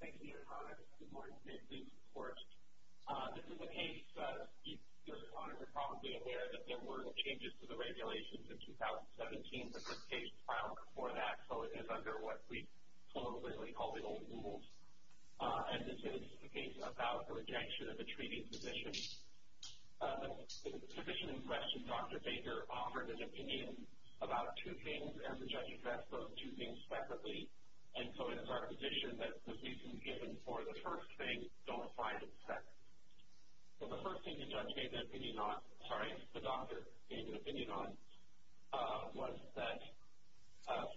Thank you, Your Honor. Good morning. Thank you, of course. This is a case, Your Honor, you're probably aware that there were changes to the regulations in 2017. The first case filed before that, so it is under what we politically call the old rules, and this is a case about the rejection of a treating physician. The physician in question, Dr. Baker, offered an opinion about two things, and the judge addressed those two things separately, and so it is our position that the reasons given for the first thing don't apply to the second. So the first thing the judge gave an opinion on, sorry, the doctor gave an opinion on, was that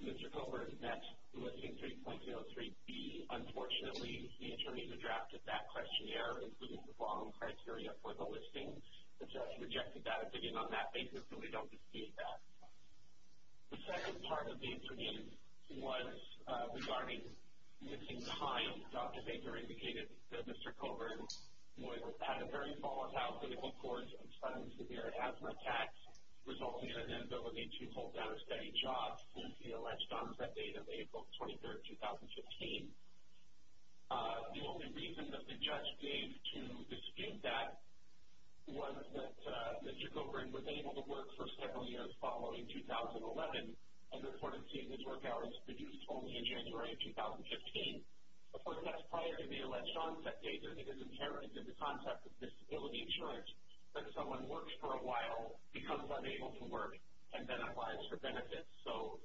Mr. Coburn met the Listing 3.03b. Unfortunately, the attorney who drafted that questionnaire included the wrong criteria for the listing. The judge rejected that opinion on that basis, and we don't dispute that. The second part of the opinion was regarding missing time. Dr. Baker indicated that Mr. Coburn had a very volatile clinical course of sudden severe asthma attacks, resulting in an inability to hold down a steady job, and he alleged harms that date of April 23, 2015. The only reason that the judge gave to dispute that was that Mr. Coburn was able to work for several years following 2011, and reported seeing his work hours reduced only in January of 2015. Of course, that's prior to the alleged onset date, and it is inherent in the concept of disability insurance that someone works for a while, becomes unable to work, and then applies for benefits, so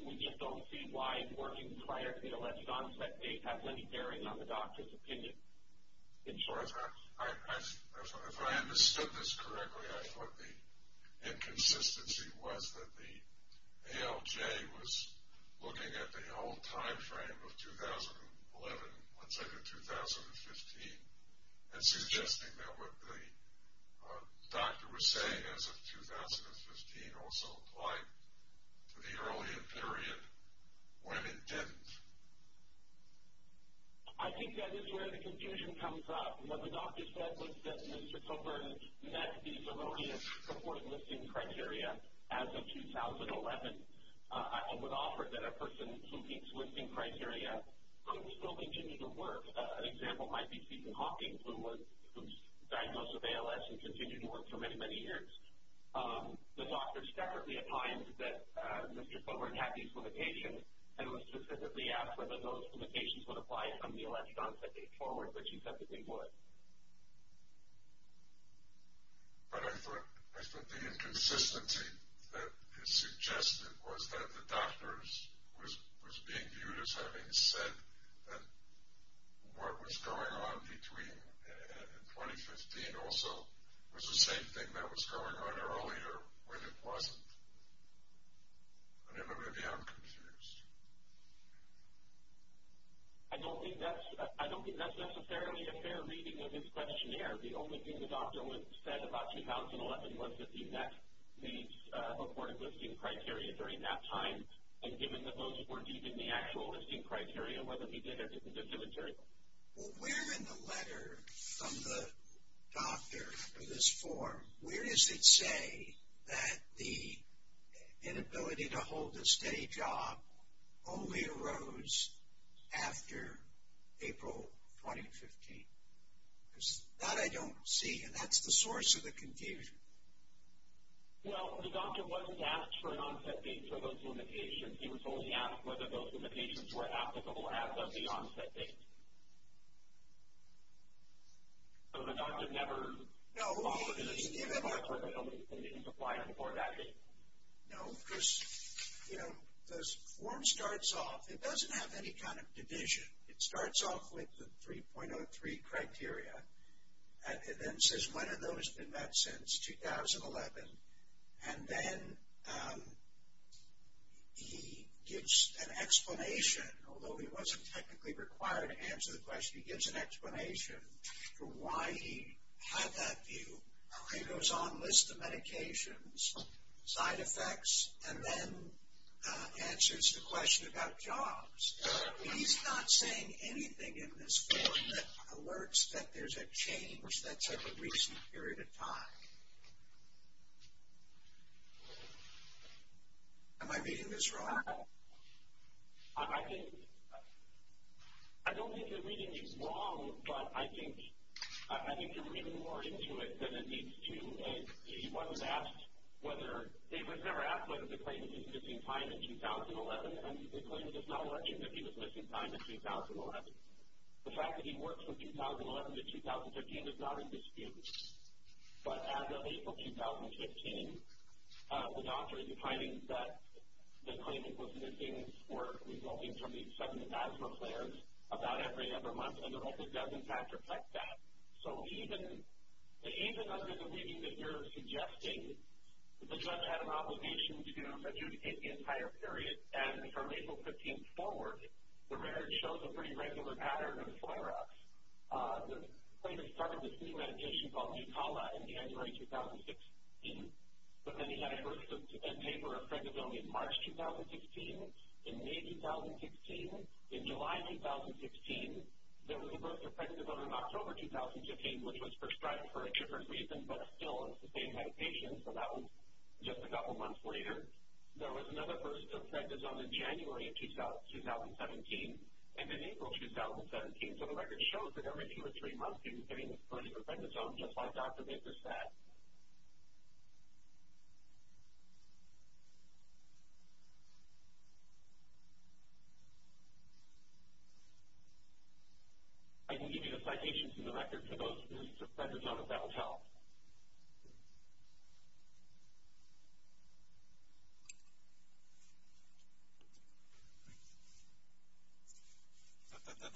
we just don't see why working prior to the alleged onset date has any bearing on the insurance. If I understood this correctly, I thought the inconsistency was that the ALJ was looking at the whole time frame of 2011, let's say to 2015, and suggesting that what the doctor was saying as of 2015 also applied to the earlier period when it didn't. I think that is where the confusion comes up. What the doctor said was that Mr. Coburn met these erroneous support listing criteria as of 2011. I would offer that a person who meets listing criteria could still continue to work. An example might be Stephen Hawking, who was diagnosed with ALS and continued to work for many, many years. The doctor separately defined that Mr. Coburn had these limitations, and was specifically asked whether those limitations would apply on the alleged onset date forward, which he said that they would. But I thought the inconsistency that is suggested was that the doctor was being viewed as having said that what was going on between 2015 also was the same thing that was going on earlier when it wasn't. I don't know whether I'm confused. I don't think that's necessarily a fair reading of his questionnaire. The only thing the doctor said about 2011 was that he met these supported listing criteria during that time, and given that those weren't even the actual listing criteria, whether he did or didn't do the material. Well, where in the letter from the doctor for this form, where does it say that the inability to hold a steady job only arose after April 2015? Because that I don't see, and that's the source of the confusion. Well, the doctor wasn't asked for an onset date for those limitations. He was only asked whether those limitations were applicable as of the onset date. So the doctor never... No, no. ...didn't apply before that date? No, because, you know, the form starts off, it doesn't have any kind of division. It starts off with the 3.03 criteria, and then says when have those been met since 2011, and then he gives an explanation, although he wasn't technically required to answer the question, he gives an explanation for why he had that view. He goes on list of medications, side effects, and then answers the question about jobs. He's not saying anything in this form that alerts that there's a change that's of a recent period of time. Am I reading this wrong? I think... I don't think you're reading this wrong, but I think you're reading more into it than it needs to. He was never asked whether the claimant was missing time in 2011, and the claimant is not alleging that he was missing time in 2011. The fact that he worked from the timing that the claimant was missing were resulting from these sudden asthma flares about every other month, and the record doesn't attribute that. So even under the reading that you're suggesting, the judge had an obligation to adjudicate the entire period, and from April 15th forward, the marriage shows a pretty regular pattern of flare-ups. The claimant started this new medication called Jucala in January 2016, but then he had a birth of a neighbor of Pregnizone in March 2016, in May 2016, in July 2016, there was a birth of Pregnizone in October 2015, which was prescribed for a different reason, but still it's the same medication, so that was just a couple months later. There was another burst of Pregnizone in January 2017, and then April 2017, so the record shows that every two or three months he was getting plenty of Pregnizone, just like Dr. Baker said. I can give you a citation from the record for those who have Pregnizone, if that will help.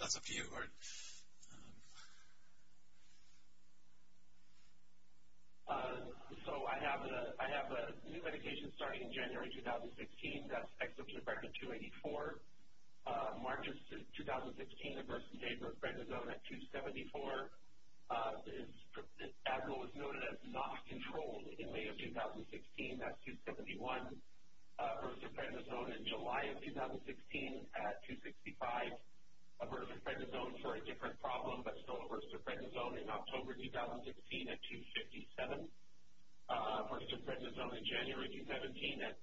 That's up to you, Bert. So I have a new medication starting in January 2016, that's exceptional Pregnant 284. March 2016, the birth of a neighbor of Pregnizone at 274. Adderall was noted as not controlled in May of 2016 at 271. Birth of Pregnizone in July of 2016 at 265. A birth of Pregnizone for a different problem, but still a birth of Pregnizone in October 2016 at 257. Birth of Pregnizone in July of 2017 at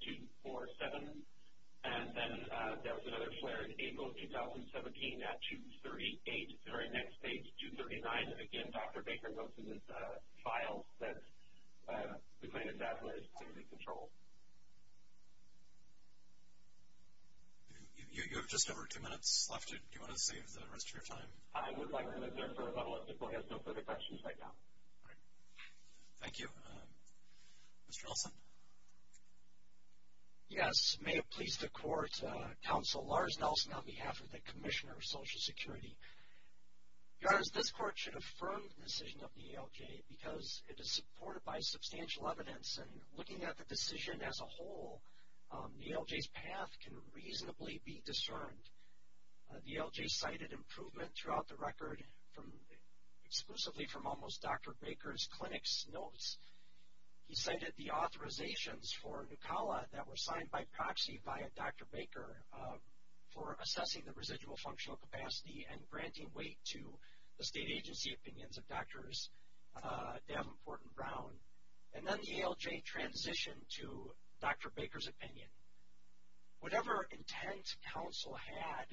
238. Very next page, 239, again, Dr. Baker notes in his file that Pregnant Adderall is clearly controlled. You have just over two minutes left. Do you want to save the rest of your time? I would like to move there for a couple of people who have no further questions right now. Thank you. Mr. Nelson? Yes, may it please the Court, Counsel Lars Nelson on behalf of the Commissioner of Social Security. Your Honors, this Court should affirm the decision of the ALJ because it is supported by substantial evidence, and looking at the decision as a whole, the ALJ's path can reasonably be discerned. The ALJ cited improvement throughout the record, exclusively from almost Dr. Baker's clinic's notes. He cited the authorizations for Nucala that were signed by proxy via Dr. Baker for assessing the residual functional capacity and granting weight to the state agency opinions of Drs. Davenport and Brown. And then the ALJ transitioned to Dr. Baker's opinion. Whatever intent Counsel had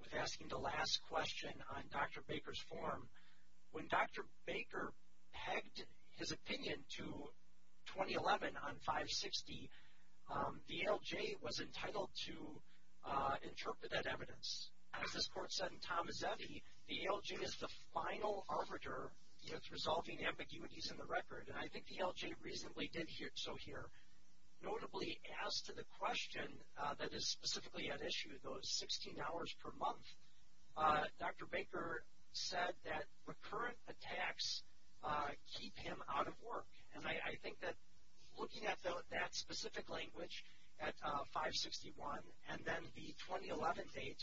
with asking the last question on Dr. Baker's form, when Dr. Baker dragged his opinion to 2011 on 560, the ALJ was entitled to interpret that evidence. As this Court said in Tomazetti, the ALJ is the final arbiter in resolving ambiguities in the record, and I think the ALJ reasonably did so here. Notably, as to the question that is specifically at issue, those 16 hours per month, Dr. Baker said that recurrent attacks keep him out of work, and I think that looking at that specific language at 561 and then the 2011 date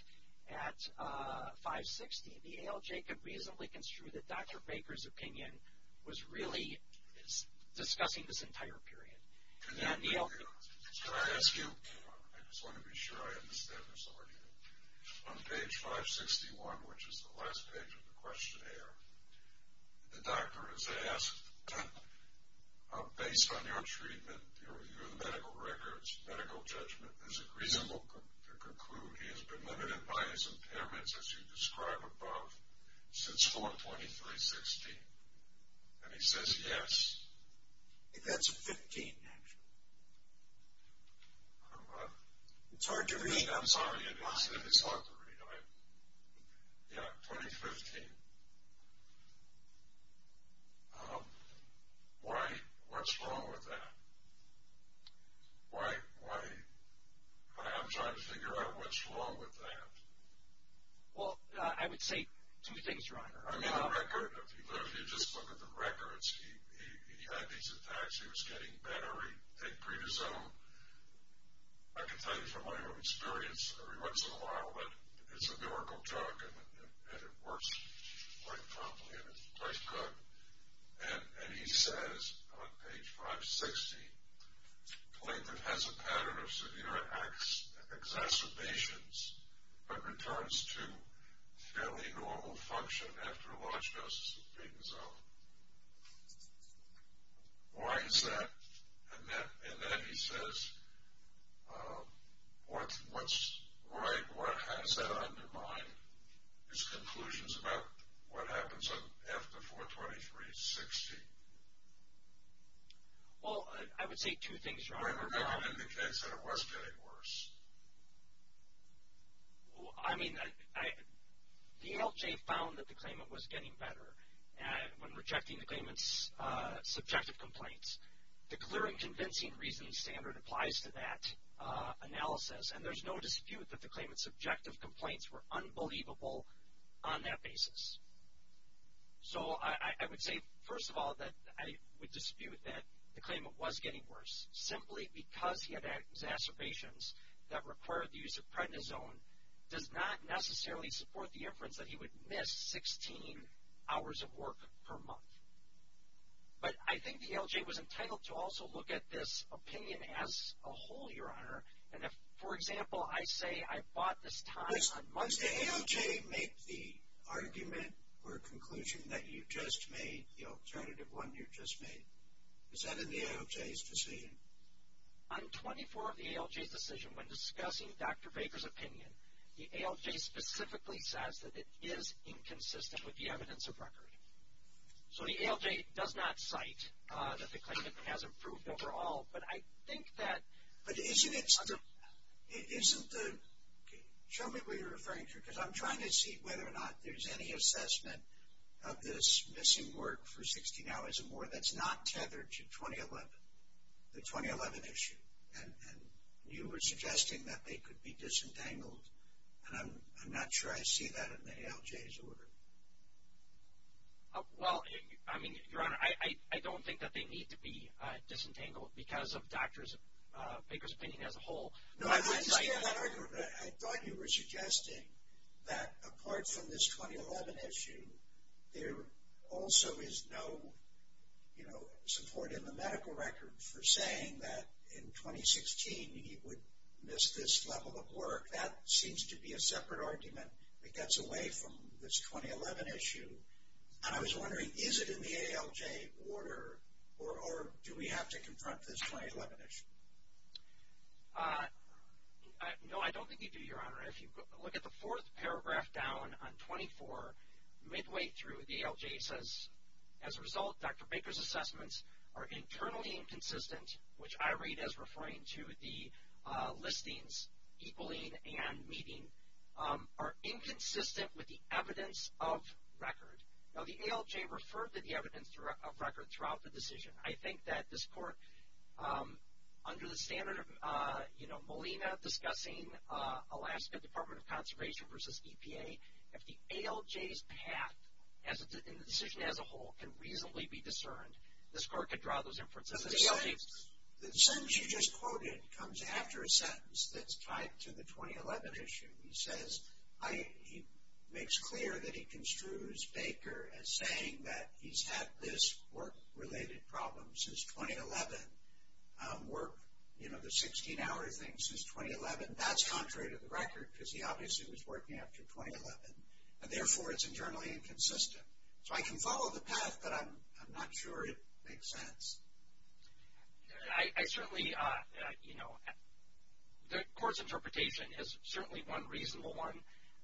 at 560, the ALJ could reasonably construe that Dr. Baker's opinion was really discussing this entire period. Can I ask you, I just want to be sure I understand this already, on page 561, which is the last page of the questionnaire, the doctor is asked, based on your treatment, your medical records, medical judgment, is it reasonable to conclude he has been limited by his impairments, as you describe above, since 4-23-16? And he says yes. That's 15, actually. It's hard to read. I'm sorry, it's hard to read. Yeah, 2015. Why, what's wrong with that? Why, I'm trying to figure out what's wrong with that. Well, I would say two things, Your Honor. I mean the record, if you just look at the records, he had these attacks, he was getting better, he had prednisone, I can tell you from my own experience every once in a while that it's a miracle drug and it works quite properly and it's quite good, and he says on page 560, Clinton has a pattern of severe exacerbations but returns to fairly normal function after a large dose of prednisone. Why is that? And then he says, what's right, what has that undermined? His conclusions about what happens after 4-23-16. Well, I would say two things, Your Honor. Remember, that indicates that it was getting worse. I mean, the ALJ found that the claimant was getting better when rejecting the claimant's subjective complaints. The clear and convincing reasoning standard applies to that analysis, and there's no dispute that the claimant's subjective complaints were unbelievable on that basis. So, I would say, first of all, that I would dispute that the claimant was getting worse simply because he had exacerbations that required the use of prednisone does not necessarily support the inference that he would miss 16 hours of work per month. But I think the ALJ was entitled to also look at this opinion as a whole, Your Honor, and if, for example, I say I bought this time on Monday. Does the ALJ make the argument or conclusion that you just made, the alternative one you just made, is that in the ALJ's decision? On 24 of the ALJ's decision, when discussing Dr. Baker's opinion, the ALJ specifically says that it is inconsistent with the evidence of record. So, the ALJ does not cite that the claimant has improved overall, but I think that... But isn't it... Isn't the... Show me what you're referring to, because I'm trying to see whether or not there's any that's not tethered to 2011, the 2011 issue. And you were suggesting that they could be disentangled, and I'm not sure I see that in the ALJ's order. Well, I mean, Your Honor, I don't think that they need to be disentangled because of Dr. Baker's opinion as a whole. No, I didn't see that argument. But I thought you were suggesting that apart from this 2011 issue, there also is no, you know, support in the medical record for saying that in 2016 he would miss this level of work. That seems to be a separate argument that gets away from this 2011 issue. And I was wondering, is it in the ALJ order, or do we have to confront this 2011 issue? No, I don't think you do, Your Honor. If you look at the fourth paragraph down on 24, midway through, the ALJ says, as a result, Dr. Baker's assessments are internally inconsistent, which I read as referring to the listings, equaling, and meeting, are inconsistent with the evidence of record. Now, the ALJ referred to the evidence of record throughout the decision. I think that this Court, under the standard of, you know, Molina discussing Alaska Department of Conservation versus EPA, if the ALJ's path in the decision as a whole can reasonably be discerned, this Court could draw those inferences. The sentence you just quoted comes after a sentence that's tied to the 2011 issue. He says, he makes clear that he construes Baker as saying that he's had this work-related problem since 2011, work, you know, the 16-hour thing since 2011. That's contrary to the record, because he obviously was working after 2011, and therefore it's internally inconsistent. So I can follow the path, but I'm not sure it makes sense. I certainly, you know, the Court's interpretation is certainly one reasonable one.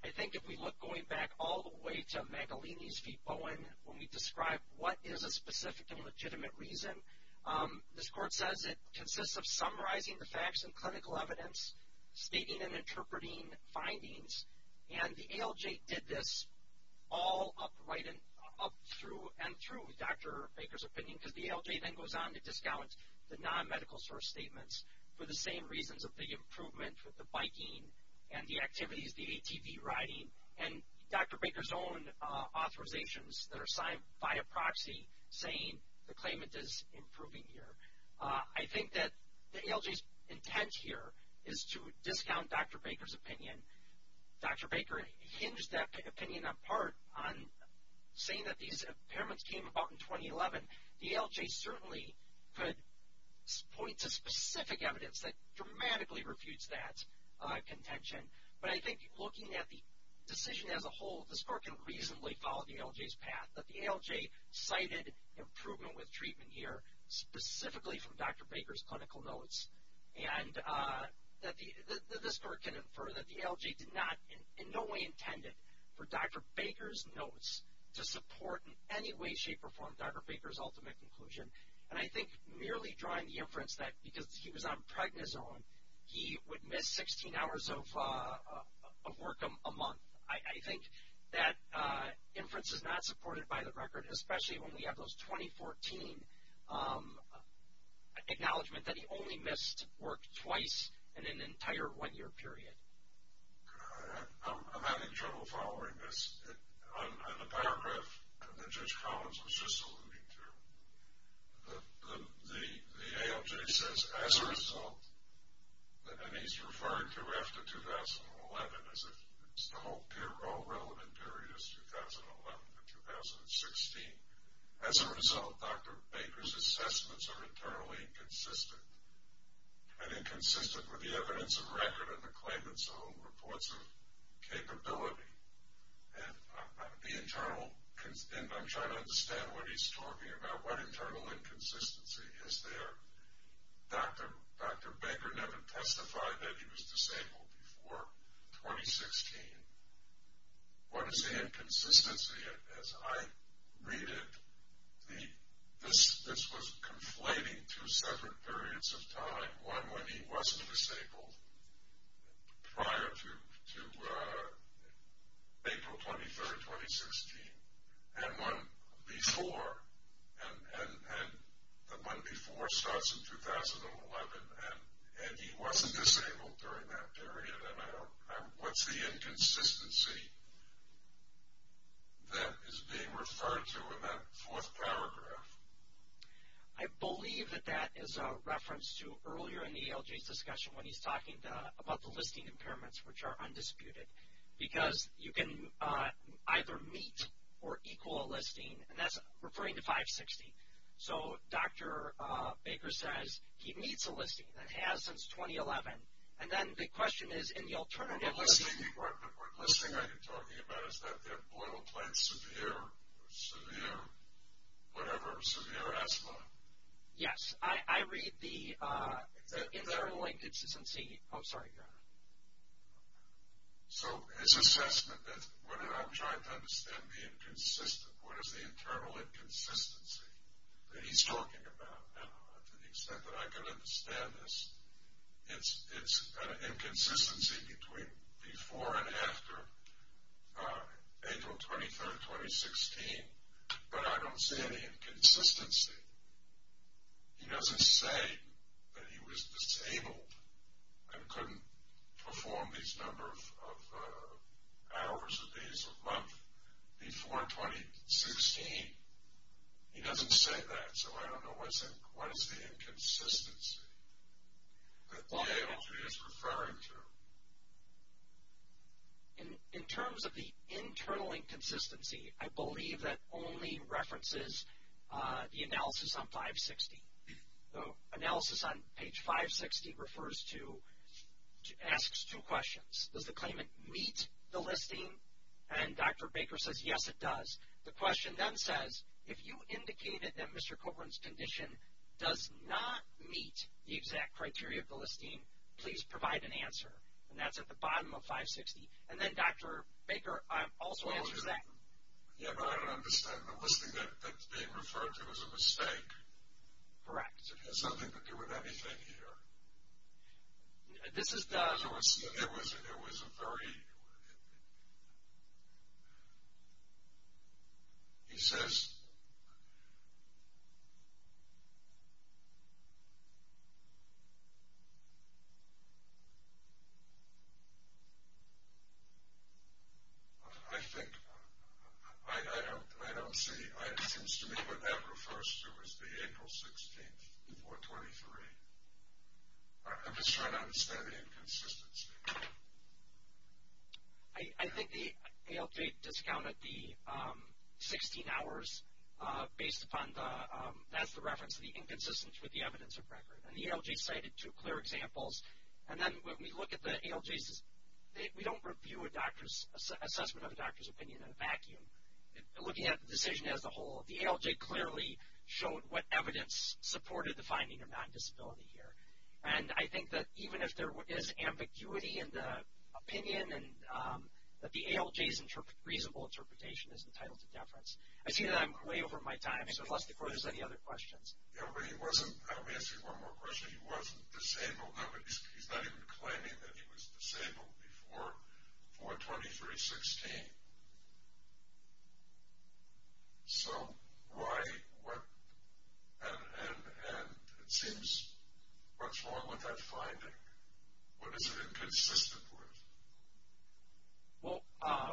I think if we look going back all the way to Magalini's v. Bowen, when we describe what is a specific and legitimate reason, this Court says it consists of summarizing the facts and clinical evidence, stating and interpreting findings. And the ALJ did this all up through and through Dr. Baker's opinion, because the ALJ then goes on to discount the non-medical source statements for the same reasons of the improvement, with the biking and the activities, the ATV riding, and Dr. Baker's own authorizations that are signed by a proxy saying the claimant is improving here. I think that the ALJ's intent here is to discount Dr. Baker's opinion. Dr. Baker hinged that opinion on part on saying that these impairments came about in 2011. The ALJ certainly could point to specific evidence that dramatically refutes that contention. But I think looking at the decision as a whole, this Court can reasonably follow the ALJ's path, that the ALJ cited improvement with treatment here, specifically from Dr. Baker's clinical notes. And that this Court can infer that the ALJ did not in no way intended for Dr. Baker's notes to support in any way, shape, or form Dr. Baker's ultimate conclusion. And I think merely drawing the inference that because he was on Pregnizone, he would miss 16 hours of work a month. I think that inference is not supported by the record, especially when we have those 2014 acknowledgment that he only missed work twice in an entire one-year period. I'm having trouble following this. On the paragraph that Judge Collins was just alluding to, the ALJ says, as a result, and he's referring to after 2011 as the whole relevant period is 2011 to 2016. As a result, Dr. Baker's assessments are internally inconsistent. And inconsistent with the evidence of record and the claimant's own reports of capability. And I'm trying to understand what he's talking about. What internal inconsistency is there? Dr. Baker never testified that he was disabled before 2016. What is the inconsistency? As I read it, this was conflating two separate periods of time. One when he wasn't disabled prior to April 23, 2016. And one before. And the one before starts in 2011, and he wasn't disabled during that period. And what's the inconsistency that is being referred to in that fourth paragraph? I believe that that is a reference to earlier in the ALJ's discussion when he's talking about the listing impairments, which are undisputed. Because you can either meet or equal a listing. And that's referring to 560. So Dr. Baker says he meets a listing and has since 2011. And then the question is in the alternative listing. The listing that you're talking about, is that the employee will claim severe asthma? Yes. I read the internal inconsistency. Oh, sorry, go ahead. So his assessment, what I'm trying to understand being consistent, what is the internal inconsistency that he's talking about now? To the extent that I can understand this, it's an inconsistency between before and after April 23, 2016. But I don't see any inconsistency. He doesn't say that he was disabled and couldn't perform these number of hours or days or months before 2016. He doesn't say that, so I don't know what is the inconsistency that the ALJ is referring to. In terms of the internal inconsistency, I believe that only references the analysis on 560. The analysis on page 560 asks two questions. Does the claimant meet the listing? And Dr. Baker says, yes, it does. The question then says, if you indicated that Mr. Copeland's condition does not meet the exact criteria of the listing, please provide an answer. And that's at the bottom of 560. And then, Dr. Baker also answers that. Yeah, but I don't understand. The listing that's being referred to is a mistake. Correct. It has nothing to do with anything here. This is the... It was a 30. He says... I think... I don't see... It seems to me what that refers to is the April 16th, 423. I'm just trying to understand the inconsistency. I think the ALJ discounted the 16 hours based upon the... That's the reference to the inconsistency with the evidence of record. And the ALJ cited two clear examples. And then when we look at the ALJs, we don't review an assessment of a doctor's opinion in a vacuum. Looking at the decision as a whole, the ALJ clearly showed what evidence supported the finding of non-disability here. And I think that even if there is ambiguity in the opinion and that the ALJ's reasonable interpretation is entitled to deference. I see that I'm way over my time, so unless the court has any other questions. Yeah, but he wasn't... Let me ask you one more question. He wasn't disabled. He's not even claiming that he was disabled before 423.16. So why... And it seems much more with that finding. What is it inconsistent with? Well,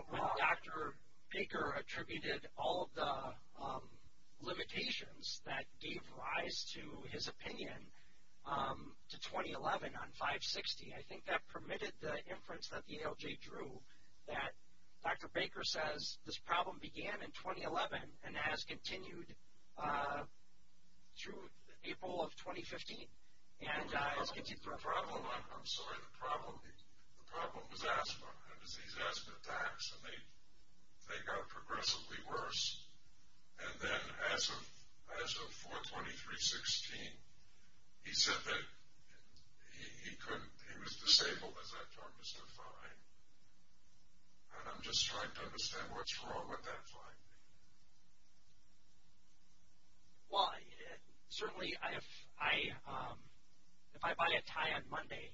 when Dr. Baker attributed all of the limitations that gave rise to his opinion to 2011 on 560, I think that permitted the inference that the ALJ drew that Dr. Baker says, this problem began in 2011 and has continued through April of 2015. I'm sorry. The problem was asthma. He has asthma attacks, and they got progressively worse. And then as of 423.16, he said that he was disabled, as I've told Mr. Fine. And I'm just trying to understand what's wrong with that finding. Well, certainly if I buy a tie on Monday,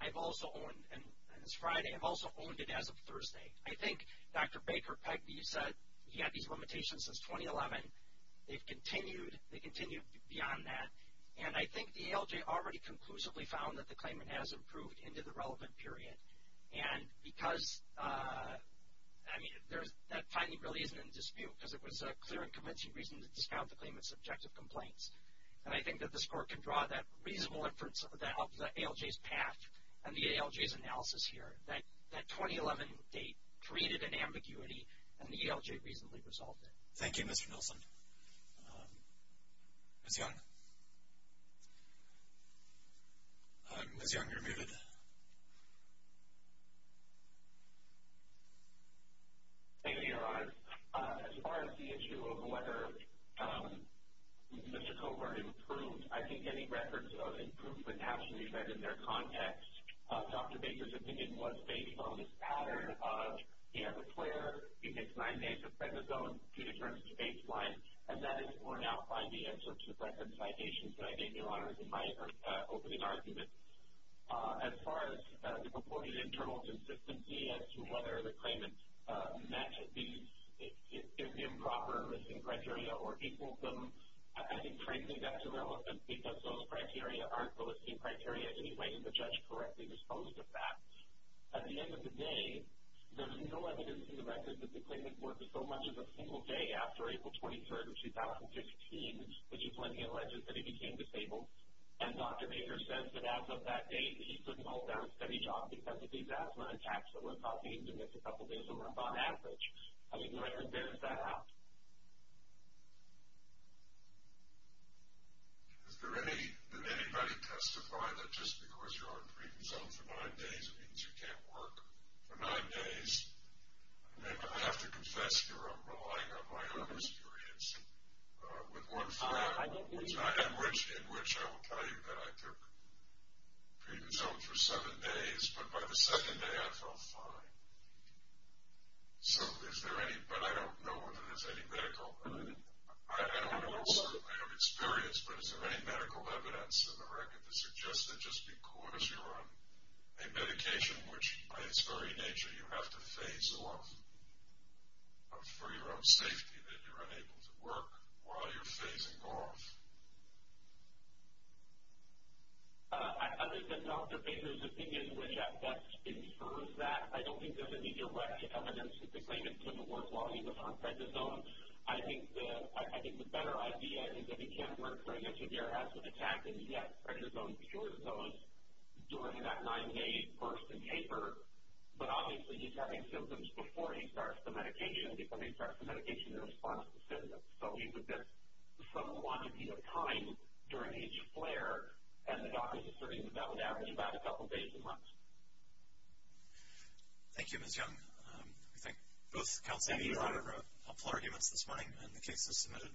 I've also owned, and this Friday, I've also owned it as of Thursday. I think Dr. Baker said he had these limitations since 2011. They've continued. They continue beyond that. And I think the ALJ already conclusively found that the claimant has improved into the relevant period. And because, I mean, that finding really isn't in dispute because it was a clear and convincing reason to discount the claimant's objective complaints. And I think that this Court can draw that reasonable inference that helped the ALJ's path and the ALJ's analysis here, that 2011 date created an ambiguity, and the ALJ reasonably resolved it. Thank you, Mr. Nilsen. Ms. Young? Ms. Young, you're muted. Thank you, Your Honors. As far as the issue of whether Mr. Covert improved, I think any records of improvement have to be read in their context. Dr. Baker's opinion was based on this pattern of he has a flare, he hits nine days of prednisone, he returns to baseline, and that will now find the answer to the record citations that I gave you, Your Honors, in my opening argument. As far as the purported internal consistency as to whether the claimant met the improper listing criteria or equaled them, I think frankly that's irrelevant because those criteria aren't the listing criteria in any way and the judge correctly disposed of that. At the end of the day, there's no evidence in the record that the claimant worked so much as a single day after April 23rd of 2015, which is when he alleged that he became disabled. And Dr. Baker says that as of that date, he couldn't hold down a steady job because of these asthma attacks that were causing him to miss a couple days of work on average. How would you like to balance that out? Did anybody testify that just because you're on prednisone for nine days it means you can't work for nine days? I mean, I have to confess here, I'm relying on my own experience. With one file in which I will tell you that I took prednisone for seven days, but by the second day I felt fine. So is there any, but I don't know whether there's any medical, I don't know, I don't experience, but is there any medical evidence in the record that suggests that just because you're on a medication which, by its very nature, you have to phase off for your own safety, that you're unable to work while you're phasing off? Other than Dr. Baker's opinion, which at best infers that, I don't think there's any direct evidence that the claimant couldn't work while he was on prednisone. I think the better idea is that he can work during a severe acid attack and he gets prednisone cured of those during that nine-day burst and taper, but obviously he's having symptoms before he starts the medication, before he starts the medication in response to symptoms. So he would get some quantity of time during each flare, and the doctors are asserting that that would average about a couple days a month. Thank you, Ms. Young. I think both counsels have made a lot of helpful arguments this morning in the cases submitted.